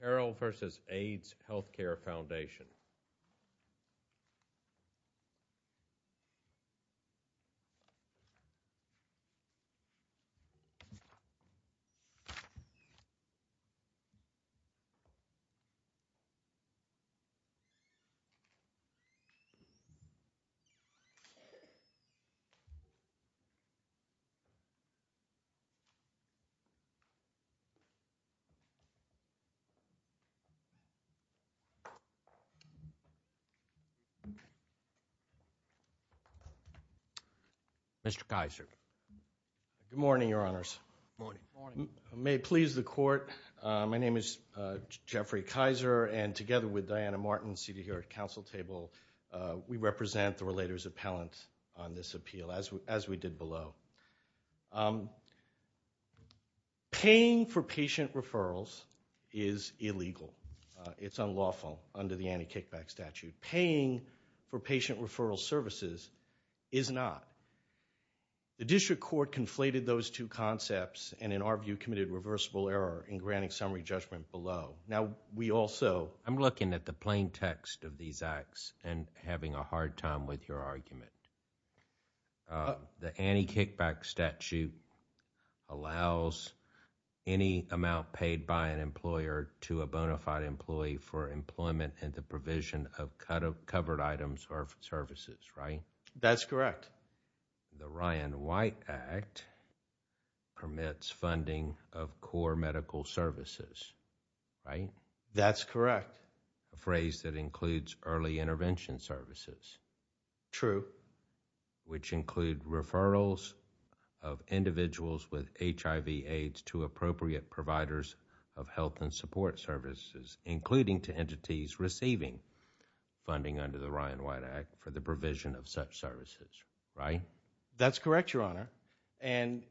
Carrel v. Aids Healthcare Foundation, Inc. Good morning, Your Honors. May it please the Court, my name is Jeffrey Kaiser, and together with Diana Martin, seated here at the Council Table, we represent the Relators Appellant on this appeal, as we did below. Paying for patient referrals is illegal. It's unlawful under the anti-kickback statute. Paying for patient referral services is not. The District Court conflated those two concepts, and in our view, committed reversible error in granting summary judgment below. Now we also, I'm looking at the plain text of these acts and having a hard time with your argument. The anti-kickback statute allows any amount paid by an employer to a bona fide employee for employment in the provision of covered items or services, right? That's correct. The Ryan White Act permits funding of core medical services, right? That's correct. A phrase that includes early intervention services. True. Which include referrals of individuals with HIV-AIDS to appropriate providers of health and support services, including to entities receiving funding under the Ryan White Act for the provision of such services, right? That's correct, Your Honor.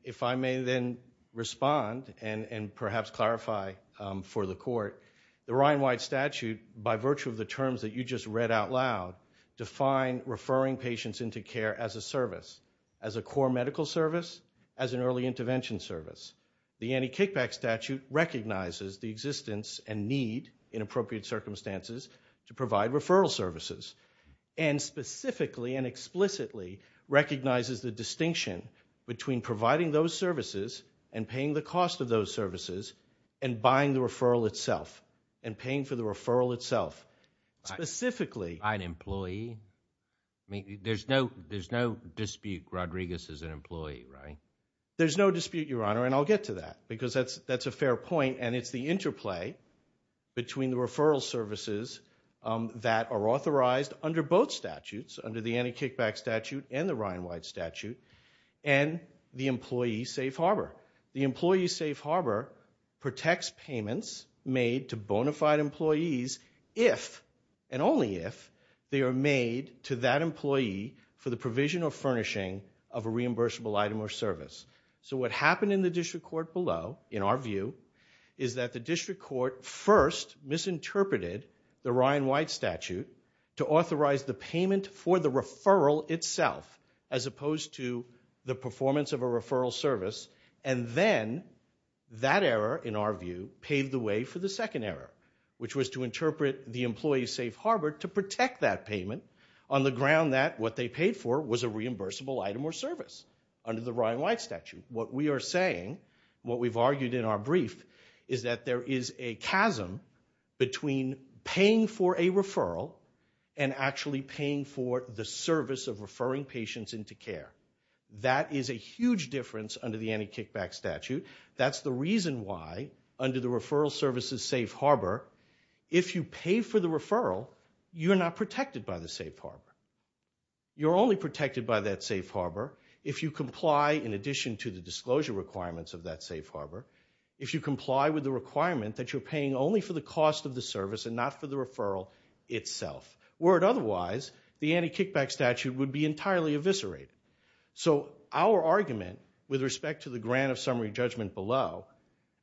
If I may then respond and perhaps clarify for the Court, the Ryan White statute, by referring patients into care as a service, as a core medical service, as an early intervention service. The anti-kickback statute recognizes the existence and need in appropriate circumstances to provide referral services, and specifically and explicitly recognizes the distinction between providing those services and paying the cost of those services and buying the referral itself and paying for the referral itself. Specifically. By an employee? There's no dispute Rodriguez is an employee, right? There's no dispute, Your Honor, and I'll get to that because that's a fair point and it's the interplay between the referral services that are authorized under both statutes, under the anti-kickback statute and the Ryan White statute, and the employee safe harbor. The employee safe harbor protects payments made to bona fide employees if, and only if, they are made to that employee for the provision or furnishing of a reimbursable item or service. What happened in the District Court below, in our view, is that the District Court first misinterpreted the Ryan White statute to authorize the payment for the referral itself, as opposed to the performance of a referral service, and then that error, in our view, paved the way for the second error, which was to interpret the employee safe harbor to protect that payment on the ground that what they paid for was a reimbursable item or service under the Ryan White statute. What we are saying, what we've argued in our brief, is that there is a chasm between paying for a referral and actually paying for the service of referring patients into care. That is a huge difference under the anti-kickback statute. That's the reason why, under the referral services safe harbor, if you pay for the referral, you're not protected by the safe harbor. You're only protected by that safe harbor if you comply, in addition to the disclosure requirements of that safe harbor, if you comply with the requirement that you're paying only for the cost of the service and not for the referral itself. Were it otherwise, the anti-kickback statute would be entirely eviscerated. Our argument, with respect to the grant of summary judgment below,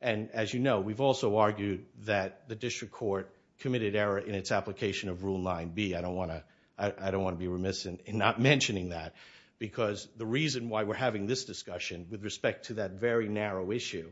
and as you know, we've also argued that the District Court committed error in its application of Rule 9B. I don't want to be remiss in not mentioning that, because the reason why we're having this discussion, with respect to that very narrow issue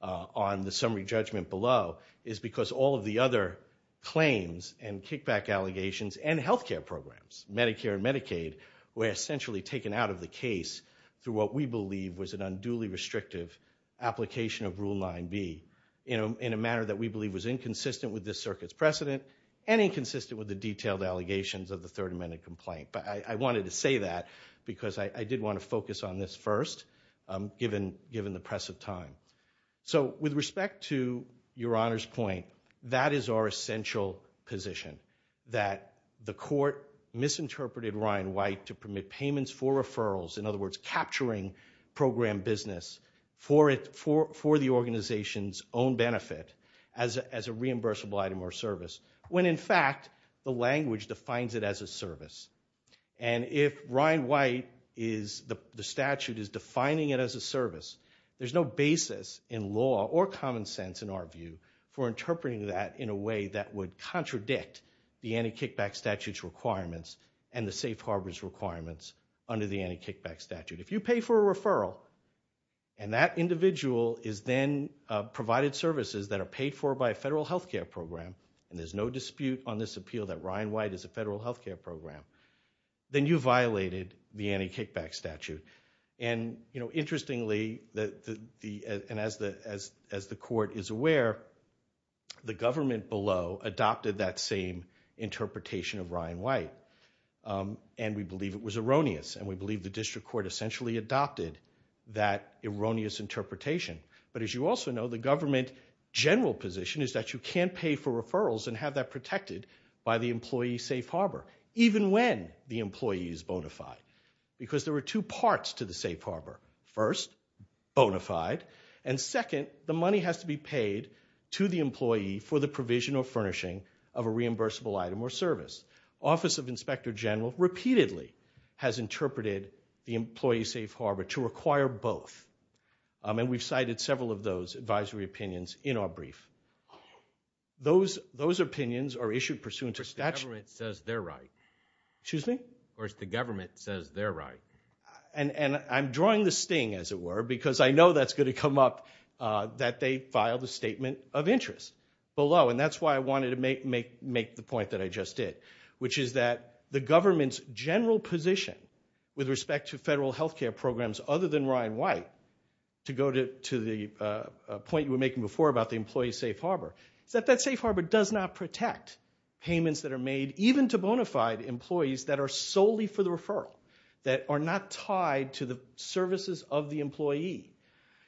on the summary judgment below, is because all of the other claims and kickback allegations and healthcare programs, Medicare and Medicaid, were essentially taken out of the case through what we believe was an unduly restrictive application of Rule 9B, in a manner that we believe was inconsistent with this circuit's precedent and inconsistent with the detailed allegations of the Third Amendment complaint. I wanted to say that because I did want to focus on this first, given the press of time. With respect to Your Honor's point, that is our essential position, that the Court misinterpreted Ryan White to permit payments for referrals, in other words, capturing program business for the organization's own benefit as a reimbursable item or service, when in fact, the language defines it as a service. And if Ryan White, the statute is defining it as a service, there's no basis in law or common sense, in our view, for interpreting that in a way that would contradict the anti-kickback statute's requirements and the safe harbor's requirements under the anti-kickback statute. If you pay for a referral, and that individual is then provided services that are paid for by a federal healthcare program, and there's no dispute on this appeal that Ryan White is a federal healthcare program, then you violated the anti-kickback statute. And interestingly, and as the Court is aware, the government below adopted that same interpretation of Ryan White. And we believe it was erroneous, and we believe the District Court essentially adopted that erroneous interpretation. But as you also know, the government general position is that you can pay for referrals and have that protected by the employee safe harbor, even when the employee is bona fide. Because there are two parts to the safe harbor. First, bona fide, and second, the money has to be paid to the employee for the provision or furnishing of a reimbursable item or service. Office of Inspector General repeatedly has interpreted the employee safe harbor to require both. And we've cited several of those advisory opinions in our brief. Those opinions are issued pursuant to statute. But the government says they're right. Excuse me? Of course, the government says they're right. And I'm drawing the sting, as it were, because I know that's going to come up, that they filed a statement of interest below. And that's why I wanted to make the point that I just did, which is that the government's general position with respect to federal healthcare programs other than Ryan White, to go to the point you were making before about the employee safe harbor, is that that safe harbor does not protect payments that are made even to bona fide employees that are solely for the referral, that are not tied to the services of the employee.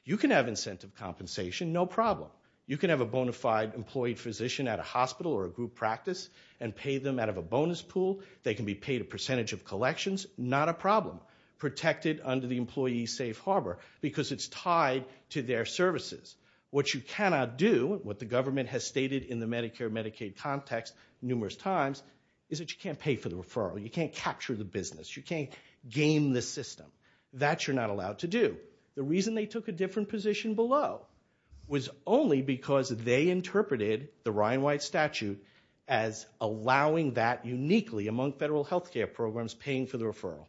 You can have incentive compensation, no problem. You can have a bona fide employee physician at a hospital or a group practice and pay them out of a bonus pool. They can be paid a percentage of collections, not a problem, protected under the employee safe harbor, because it's tied to their services. What you cannot do, what the government has stated in the Medicare-Medicaid context numerous times, is that you can't pay for the referral. You can't capture the business. You can't game the system. That you're not allowed to do. The reason they took a different position below was only because they interpreted the Ryan White statute as allowing that uniquely among federal healthcare programs, paying for the referral.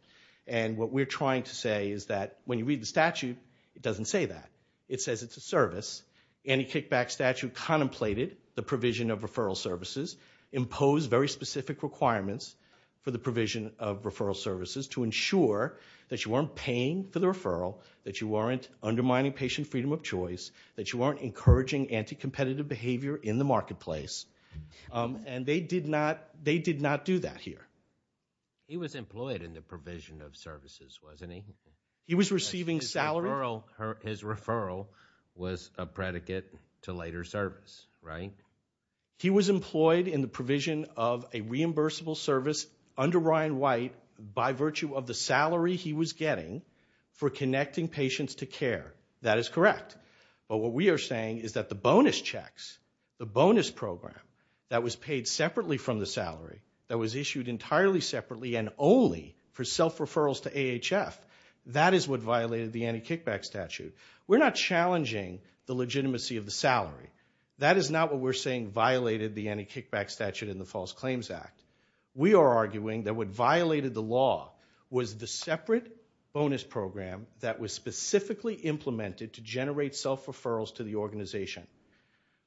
What we're trying to say is that when you read the statute, it doesn't say that. It says it's a service. Any kickback statute contemplated the provision of referral services, imposed very specific requirements for the provision of referral services to ensure that you weren't paying for the referral, that you weren't undermining patient freedom of choice, that you weren't encouraging anti-competitive behavior in the marketplace. They did not do that here. He was employed in the provision of services, wasn't he? He was receiving salary. His referral was a predicate to later service, right? He was employed in the provision of a reimbursable service under Ryan White by virtue of the salary he was getting for connecting patients to care. That is correct. But what we are saying is that the bonus checks, the bonus program that was paid separately from the salary, that was issued entirely separately and only for self-referrals to AHF, that is what violated the anti-kickback statute. We're not challenging the legitimacy of the salary. That is not what we're saying violated the anti-kickback statute in the False Claims Act. We are arguing that what violated the law was the separate bonus program that was specifically implemented to generate self-referrals to the organization.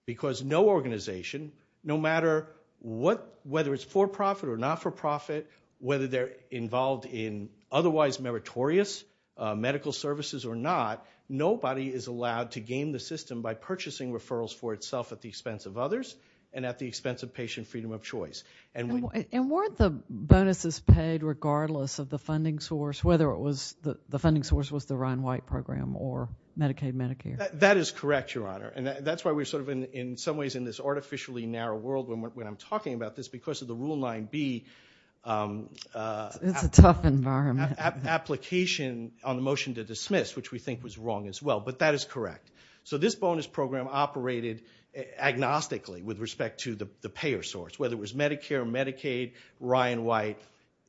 Because no organization, no matter whether it's for-profit or not-for-profit, whether they're involved in otherwise meritorious medical services or not, nobody is allowed to game the system by purchasing referrals for itself at the expense of others and at the expense of patient freedom of choice. And weren't the bonuses paid regardless of the funding source, whether the funding source was the Ryan White program or Medicaid-Medicare? That is correct, Your Honor. And that's why we're sort of in some ways in this artificially narrow world when I'm talking about this because of the Rule 9b application on the motion to dismiss, which we think was wrong as well. But that is correct. So this bonus program operated agnostically with respect to the payer source, whether it was Medicare, Medicaid, Ryan White.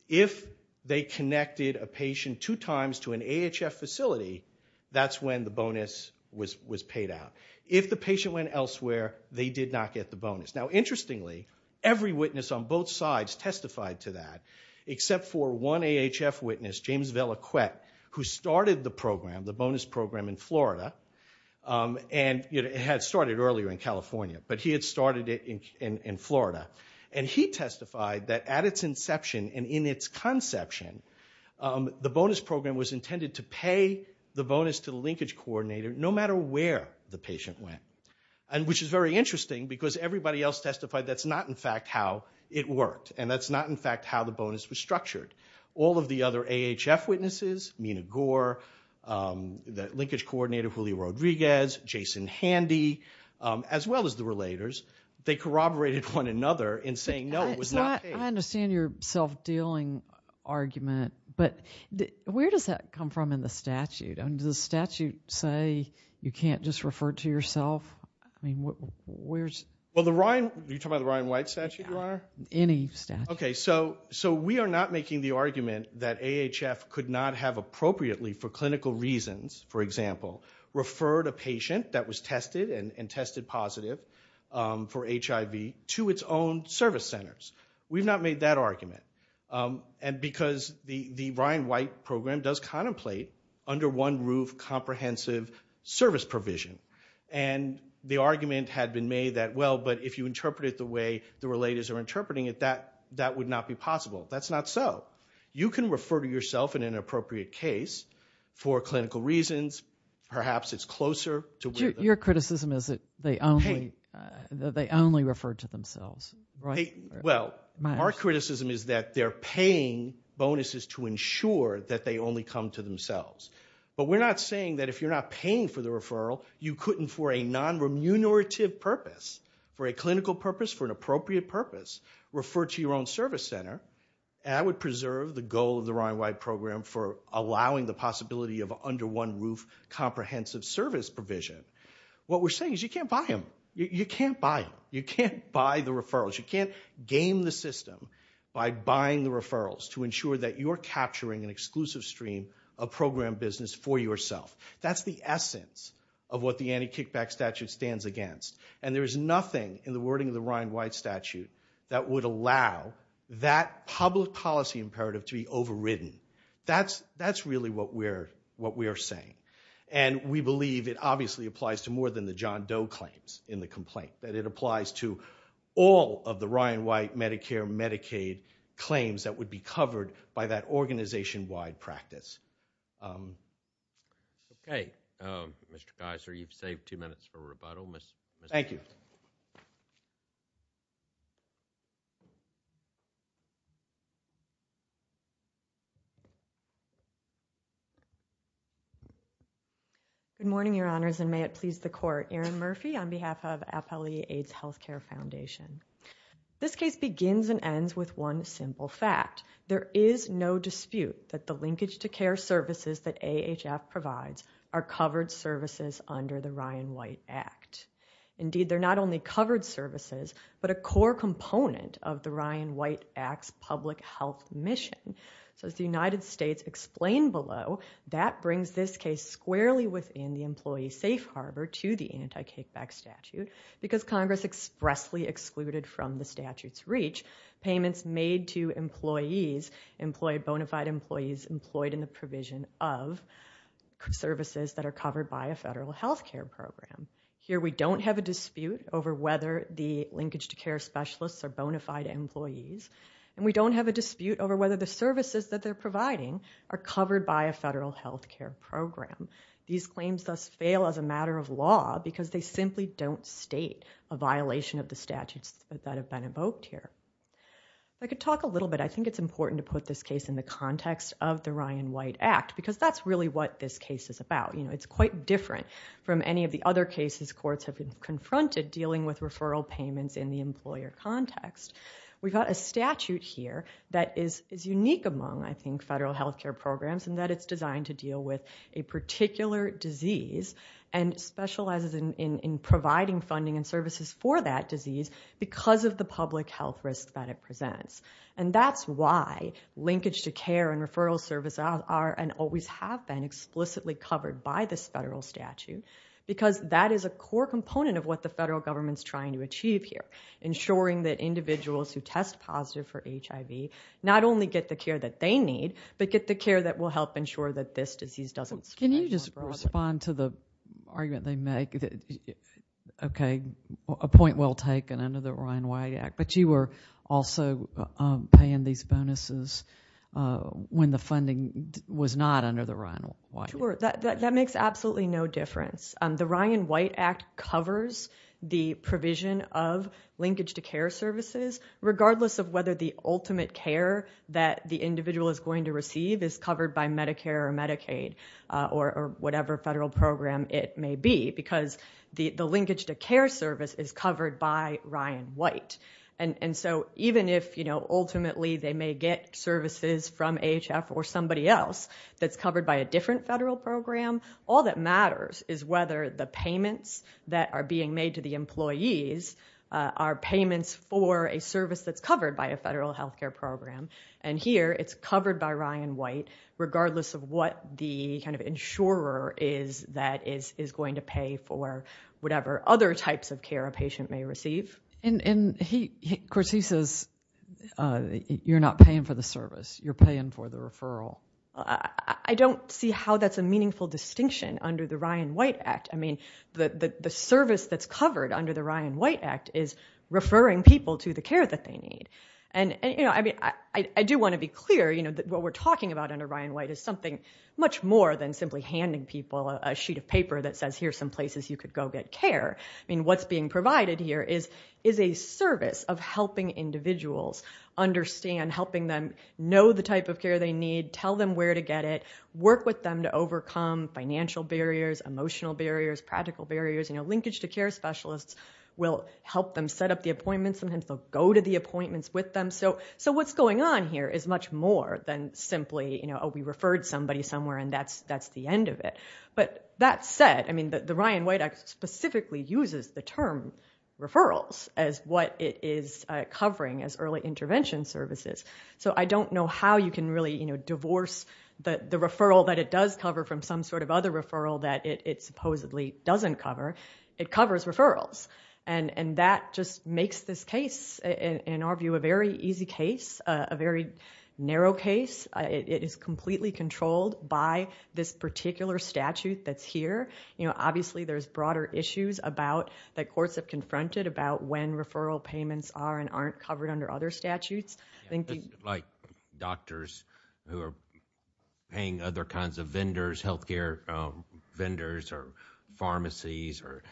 If they connected a patient two times to an AHF facility, that's when the bonus was paid out. If the patient went elsewhere, they did not get the bonus. Now interestingly, every witness on both sides testified to that, except for one AHF witness, James Velaquette, who started the program, the bonus program in Florida. And it had started earlier in California, but he had started it in Florida. And he testified that at its inception and in its conception, the bonus program was intended to pay the bonus to the linkage coordinator no matter where the patient went, which is very interesting because everybody else testified that's not, in fact, how it worked. And that's not, in fact, how the bonus was structured. All of the other AHF witnesses, Mina Gore, the linkage coordinator, Julio Rodriguez, Jason Handy, as well as the relators, they corroborated one another in saying, no, it was not paid. I understand your self-dealing argument, but where does that come from in the statute? Does the statute say you can't just refer to yourself? I mean, where's... Well, the Ryan... Are you talking about the Ryan White statute, Your Honor? Any statute. Okay. So we are not making the argument that AHF could not have appropriately for clinical reasons, for example, referred a patient that was tested and tested positive for HIV to its own service centers. We've not made that argument. And because the Ryan White program does contemplate under one roof comprehensive service provision. And the argument had been made that, well, but if you interpret it the way the relators are interpreting it, that would not be possible. That's not so. You can refer to yourself in an appropriate case for clinical reasons, perhaps it's closer to where... Your criticism is that they only refer to themselves, right? Well, my criticism is that they're paying bonuses to ensure that they only come to themselves. But we're not saying that if you're not paying for the referral, you couldn't for a non-remunerative purpose, for a clinical purpose, for an appropriate purpose, refer to your own service center. And I would preserve the goal of the Ryan White program for allowing the possibility of under one roof comprehensive service provision. What we're saying is you can't buy them. You can't buy them. You can't buy the referrals. You can't game the system by buying the referrals to ensure that you're capturing an exclusive stream of program business for yourself. That's the essence of what the anti-kickback statute stands against. And there is nothing in the wording of the Ryan White statute that would allow that public policy imperative to be overridden. That's really what we're saying. And we believe it obviously applies to more than the John Doe claims in the complaint, that it applies to all of the Ryan White, Medicare, Medicaid claims that would be covered by that organization-wide practice. Okay. Mr. Geiser, you've saved two minutes for rebuttal. Thank you. Good morning, Your Honors, and may it please the Court. Erin Murphy on behalf of Appellee AIDS Healthcare Foundation. This case begins and ends with one simple fact. There is no dispute that the linkage-to-care services that AHF provides are covered services under the Ryan White Act. Indeed, they're not only covered services, but a core component of the Ryan White Act's public health mission. So as the United States explained below, that brings this case squarely within the employee safe harbor to the anti-kickback statute because Congress expressly excluded from the statute's two employees, employed bona fide employees employed in the provision of services that are covered by a federal health care program. Here we don't have a dispute over whether the linkage-to-care specialists are bona fide employees, and we don't have a dispute over whether the services that they're providing are covered by a federal health care program. These claims thus fail as a matter of law because they simply don't state a violation of the statutes that have been invoked here. If I could talk a little bit, I think it's important to put this case in the context of the Ryan White Act because that's really what this case is about. It's quite different from any of the other cases courts have been confronted dealing with referral payments in the employer context. We've got a statute here that is unique among, I think, federal health care programs and that it's designed to deal with a particular disease and specializes in providing funding and services for that disease because of the public health risk that it presents. That's why linkage-to-care and referral services are and always have been explicitly covered by this federal statute because that is a core component of what the federal government's trying to achieve here, ensuring that individuals who test positive for HIV not only get the care that they need, but get the care that will help ensure that this disease doesn't spread. Can you just respond to the argument they make, okay, a point well taken under the Ryan White Act, but you were also paying these bonuses when the funding was not under the Ryan White Act. Sure. That makes absolutely no difference. The Ryan White Act covers the provision of linkage-to-care services regardless of whether the ultimate care that the individual is going to receive is covered by Medicare or Medicaid or whatever federal program it may be because the linkage-to-care service is covered by Ryan White. And so even if ultimately they may get services from AHF or somebody else that's covered by a different federal program, all that matters is whether the payments that are being made to the employees are payments for a service that's covered by a federal health care program. And here it's covered by Ryan White regardless of what the kind of insurer is that is going to pay for whatever other types of care a patient may receive. And of course he says you're not paying for the service, you're paying for the referral. I don't see how that's a meaningful distinction under the Ryan White Act. I mean, the service that's covered under the Ryan White Act is referring people to the care that they need. And I do want to be clear that what we're talking about under Ryan White is something much more than simply handing people a sheet of paper that says here's some places you could go get care. I mean, what's being provided here is a service of helping individuals understand, helping them know the type of care they need, tell them where to get it, work with them to overcome financial barriers, emotional barriers, practical barriers. Linkage-to-care specialists will help them set up the appointments, sometimes they'll go to the appointments with them. So what's going on here is much more than simply, you know, we referred somebody somewhere and that's the end of it. But that said, I mean, the Ryan White Act specifically uses the term referrals as what it is covering as early intervention services. So I don't know how you can really, you know, divorce the referral that it does cover from some sort of other referral that it supposedly doesn't cover. It covers referrals. And that just makes this case, in our view, a very easy case, a very narrow case. It is completely controlled by this particular statute that's here. You know, obviously there's broader issues about, that courts have confronted about when referral payments are and aren't covered under other statutes. I think you... Like doctors who are paying other kinds of vendors, healthcare vendors or pharmacies or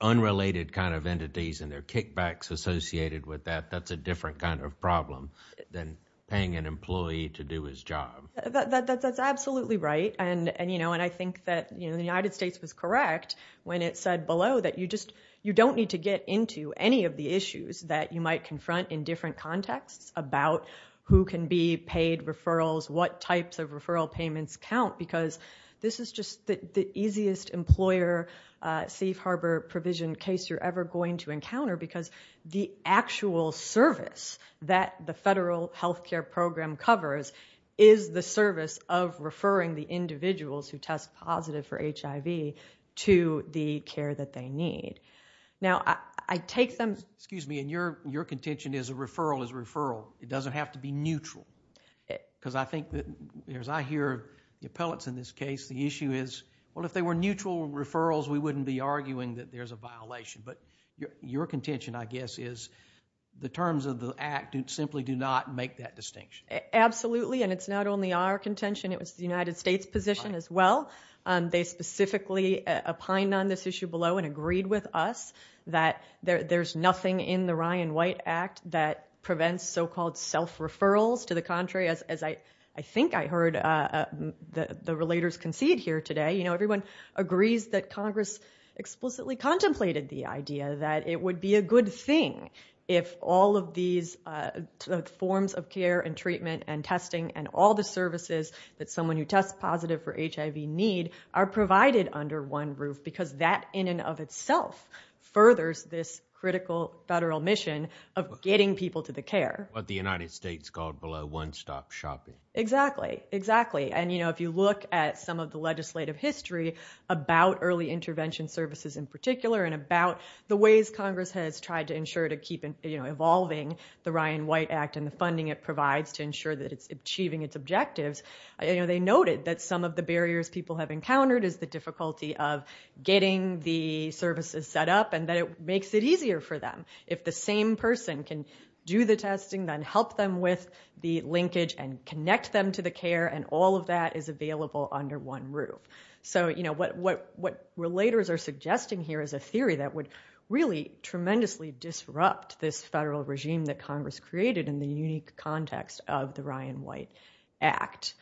unrelated kind of entities and their kickbacks associated with that, that's a different kind of problem than paying an employee to do his job. That's absolutely right. And, you know, and I think that, you know, the United States was correct when it said below that you just, you don't need to get into any of the issues that you might confront in different contexts about who can be paid referrals, what types of referral payments count because this is just the easiest employer safe harbor provision case you're ever going to encounter because the actual service that the federal healthcare program covers is the service of referring the individuals who test positive for HIV to the care that they need. Now, I take them... Excuse me. And your contention is a referral is a referral. It doesn't have to be neutral because I think that, as I hear the appellants in this case, the issue is, well, if they were neutral referrals, we wouldn't be arguing that there's a violation. But your contention, I guess, is the terms of the act simply do not make that distinction. Absolutely. And it's not only our contention. It was the United States' position as well. They specifically opined on this issue below and agreed with us that there's nothing in the Ryan White Act that prevents so-called self-referrals. To the contrary, as I think I heard the relators concede here today, you know, everyone agrees that Congress explicitly contemplated the idea that it would be a good thing if all of these forms of care and treatment and testing and all the services that someone who tests positive for HIV need are provided under one roof because that in and of itself furthers this critical federal mission of getting people to the care. What the United States called below one stop shopping. Exactly. Exactly. And, you know, if you look at some of the legislative history about early intervention services in particular and about the ways Congress has tried to ensure to keep, you know, evolving the Ryan White Act and the funding it provides to ensure that it's achieving its objectives, you know, they noted that some of the barriers people have encountered is the difficulty of getting the services set up and that it makes it easier for them. If the same person can do the testing, then help them with the linkage and connect them to the care and all of that is available under one roof. So you know, what relators are suggesting here is a theory that would really tremendously disrupt this federal regime that Congress created in the unique context of the Ryan White Act.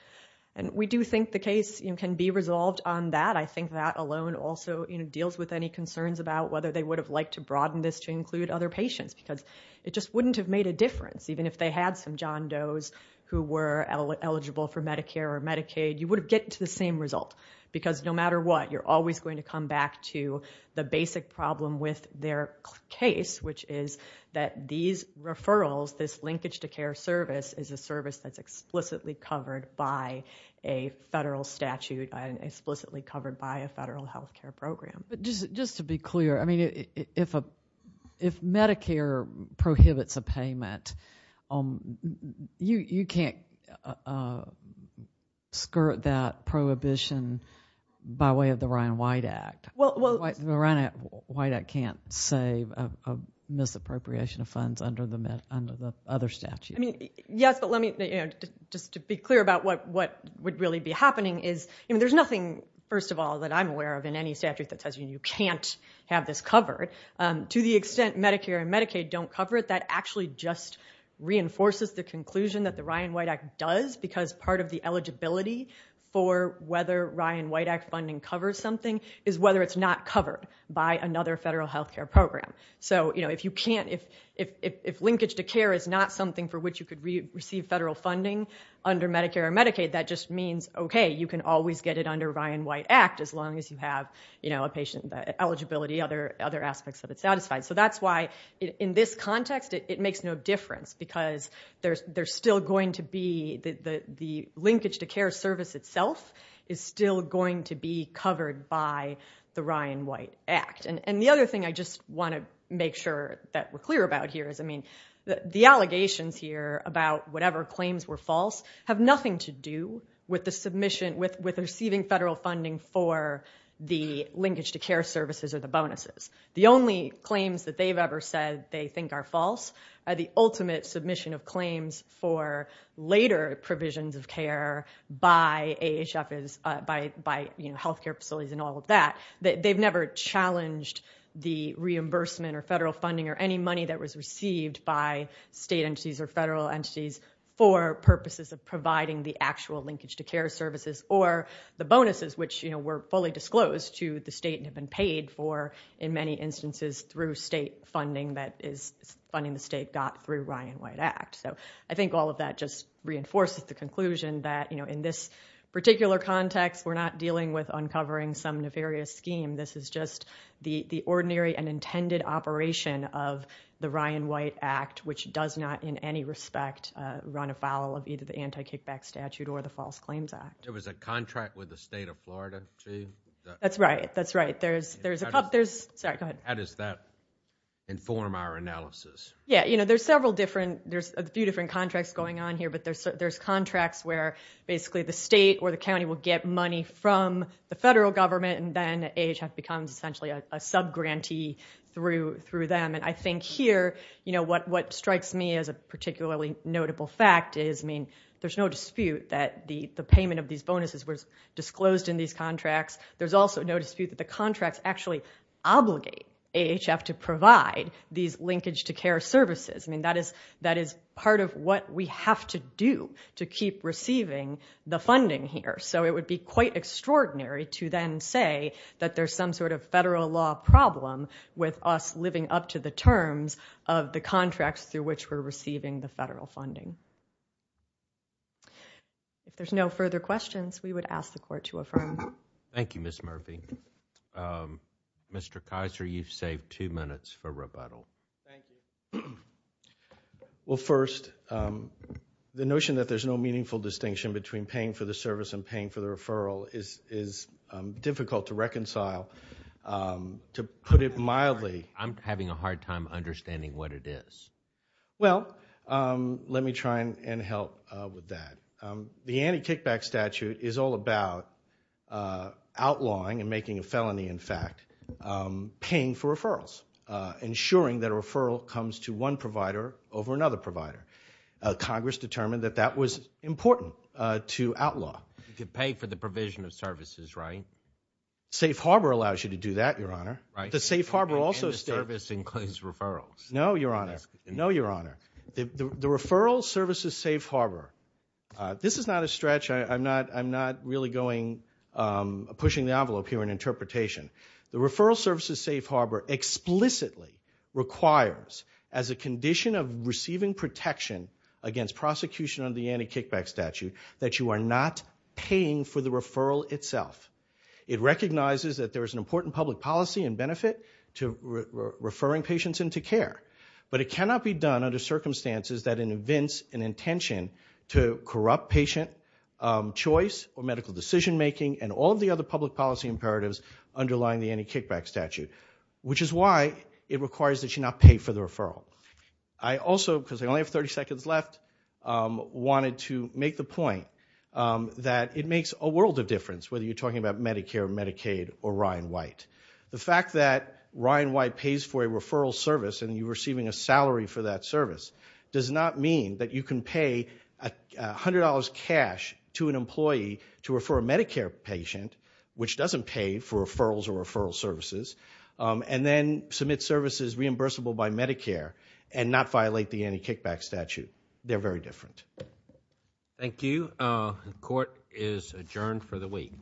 And we do think the case, you know, can be resolved on that. I think that alone also, you know, deals with any concerns about whether they would have liked to broaden this to include other patients because it just wouldn't have made a difference even if they had some John Doe's who were eligible for Medicare or Medicaid. You would have get to the same result because no matter what, you're always going to come back to the basic problem with their case which is that these referrals, this linkage to care service is a service that's explicitly covered by a federal statute, explicitly covered by a federal health care program. Just to be clear, I mean, if Medicare prohibits a payment, you can't skirt that prohibition by way of the Ryan White Act. The Ryan White Act can't save a misappropriation of funds under the other statute. I mean, yes, but let me, you know, just to be clear about what would really be happening is, you know, there's nothing, first of all, that I'm aware of in any statute that says you can't have this covered. To the extent Medicare and Medicaid don't cover it, that actually just reinforces the conclusion that the Ryan White Act does because part of the eligibility for whether Ryan White Act funding covers something is whether it's not covered by another federal health care program. So if you can't, if linkage to care is not something for which you could receive federal funding under Medicare or Medicaid, that just means, okay, you can always get it under Ryan White Act as long as you have, you know, a patient eligibility, other aspects of it satisfied. So that's why in this context, it makes no difference because there's still going to be, the linkage to care service itself is still going to be covered by the Ryan White Act. And the other thing I just want to make sure that we're clear about here is, I mean, the allegations here about whatever claims were false have nothing to do with the submission, with receiving federal funding for the linkage to care services or the bonuses. The only claims that they've ever said they think are false are the ultimate submission of claims for later provisions of care by AHFs, by, you know, health care facilities and all of that. They've never challenged the reimbursement or federal funding or any money that was received by state entities or federal entities for purposes of providing the actual linkage to care services or the bonuses, which, you know, were fully disclosed to the state and have been paid for in many instances through state funding that is funding the state got through the Ryan White Act. So I think all of that just reinforces the conclusion that, you know, in this particular context, we're not dealing with uncovering some nefarious scheme. This is just the ordinary and intended operation of the Ryan White Act, which does not in any respect run afoul of either the anti-kickback statute or the False Claims Act. There was a contract with the state of Florida, too? That's right. That's right. There's, there's a, there's, sorry, go ahead. How does that inform our analysis? Yeah, you know, there's several different, there's a few different contracts going on here, but there's, there's contracts where basically the state or the county will get money from the federal government and then AHF becomes essentially a subgrantee through, through them. And I think here, you know, what, what strikes me as a particularly notable fact is, I mean, there's no dispute that the, the payment of these bonuses was disclosed in these contracts. There's also no dispute that the contracts actually obligate AHF to provide these linkage to care services. I mean, that is, that is part of what we have to do to keep receiving the funding here. So it would be quite extraordinary to then say that there's some sort of federal law problem with us living up to the terms of the contracts through which we're receiving the federal funding. If there's no further questions, we would ask the Court to affirm. Thank you, Ms. Murphy. Mr. Kizer, you've saved two minutes for rebuttal. Thank you. Well, first, the notion that there's no meaningful distinction between paying for the service and paying for the referral is, is difficult to reconcile. To put it mildly, I'm having a hard time understanding what it is. Well, let me try and, and help with that. The anti-kickback statute is all about outlawing and making a felony, in fact, paying for referrals, ensuring that a referral comes to one provider over another provider. Congress determined that that was important to outlaw. You could pay for the provision of services, right? Safe Harbor allows you to do that, Your Honor. The Safe Harbor also states... And the service includes referrals. No, Your Honor. No, Your Honor. The referral services Safe Harbor, this is not a stretch, I'm not, I'm not really going, pushing the envelope here in interpretation. The referral services Safe Harbor explicitly requires, as a condition of receiving protection against prosecution under the anti-kickback statute, that you are not paying for the referral itself. It recognizes that there is an important public policy and benefit to referring patients into care. But it cannot be done under circumstances that in events and intention to corrupt patient choice or medical decision making and all of the other public policy imperatives underlying the anti-kickback statute, which is why it requires that you not pay for the referral. I also, because I only have 30 seconds left, wanted to make the point that it makes a world of difference whether you're talking about Medicare, Medicaid, or Ryan White. The fact that Ryan White pays for a referral service and you're receiving a salary for that service does not mean that you can pay $100 cash to an employee to refer a Medicare patient, which doesn't pay for referrals or referral services, and then submit services reimbursable by Medicare and not violate the anti-kickback statute. They're very different. Thank you. The court is adjourned for the week.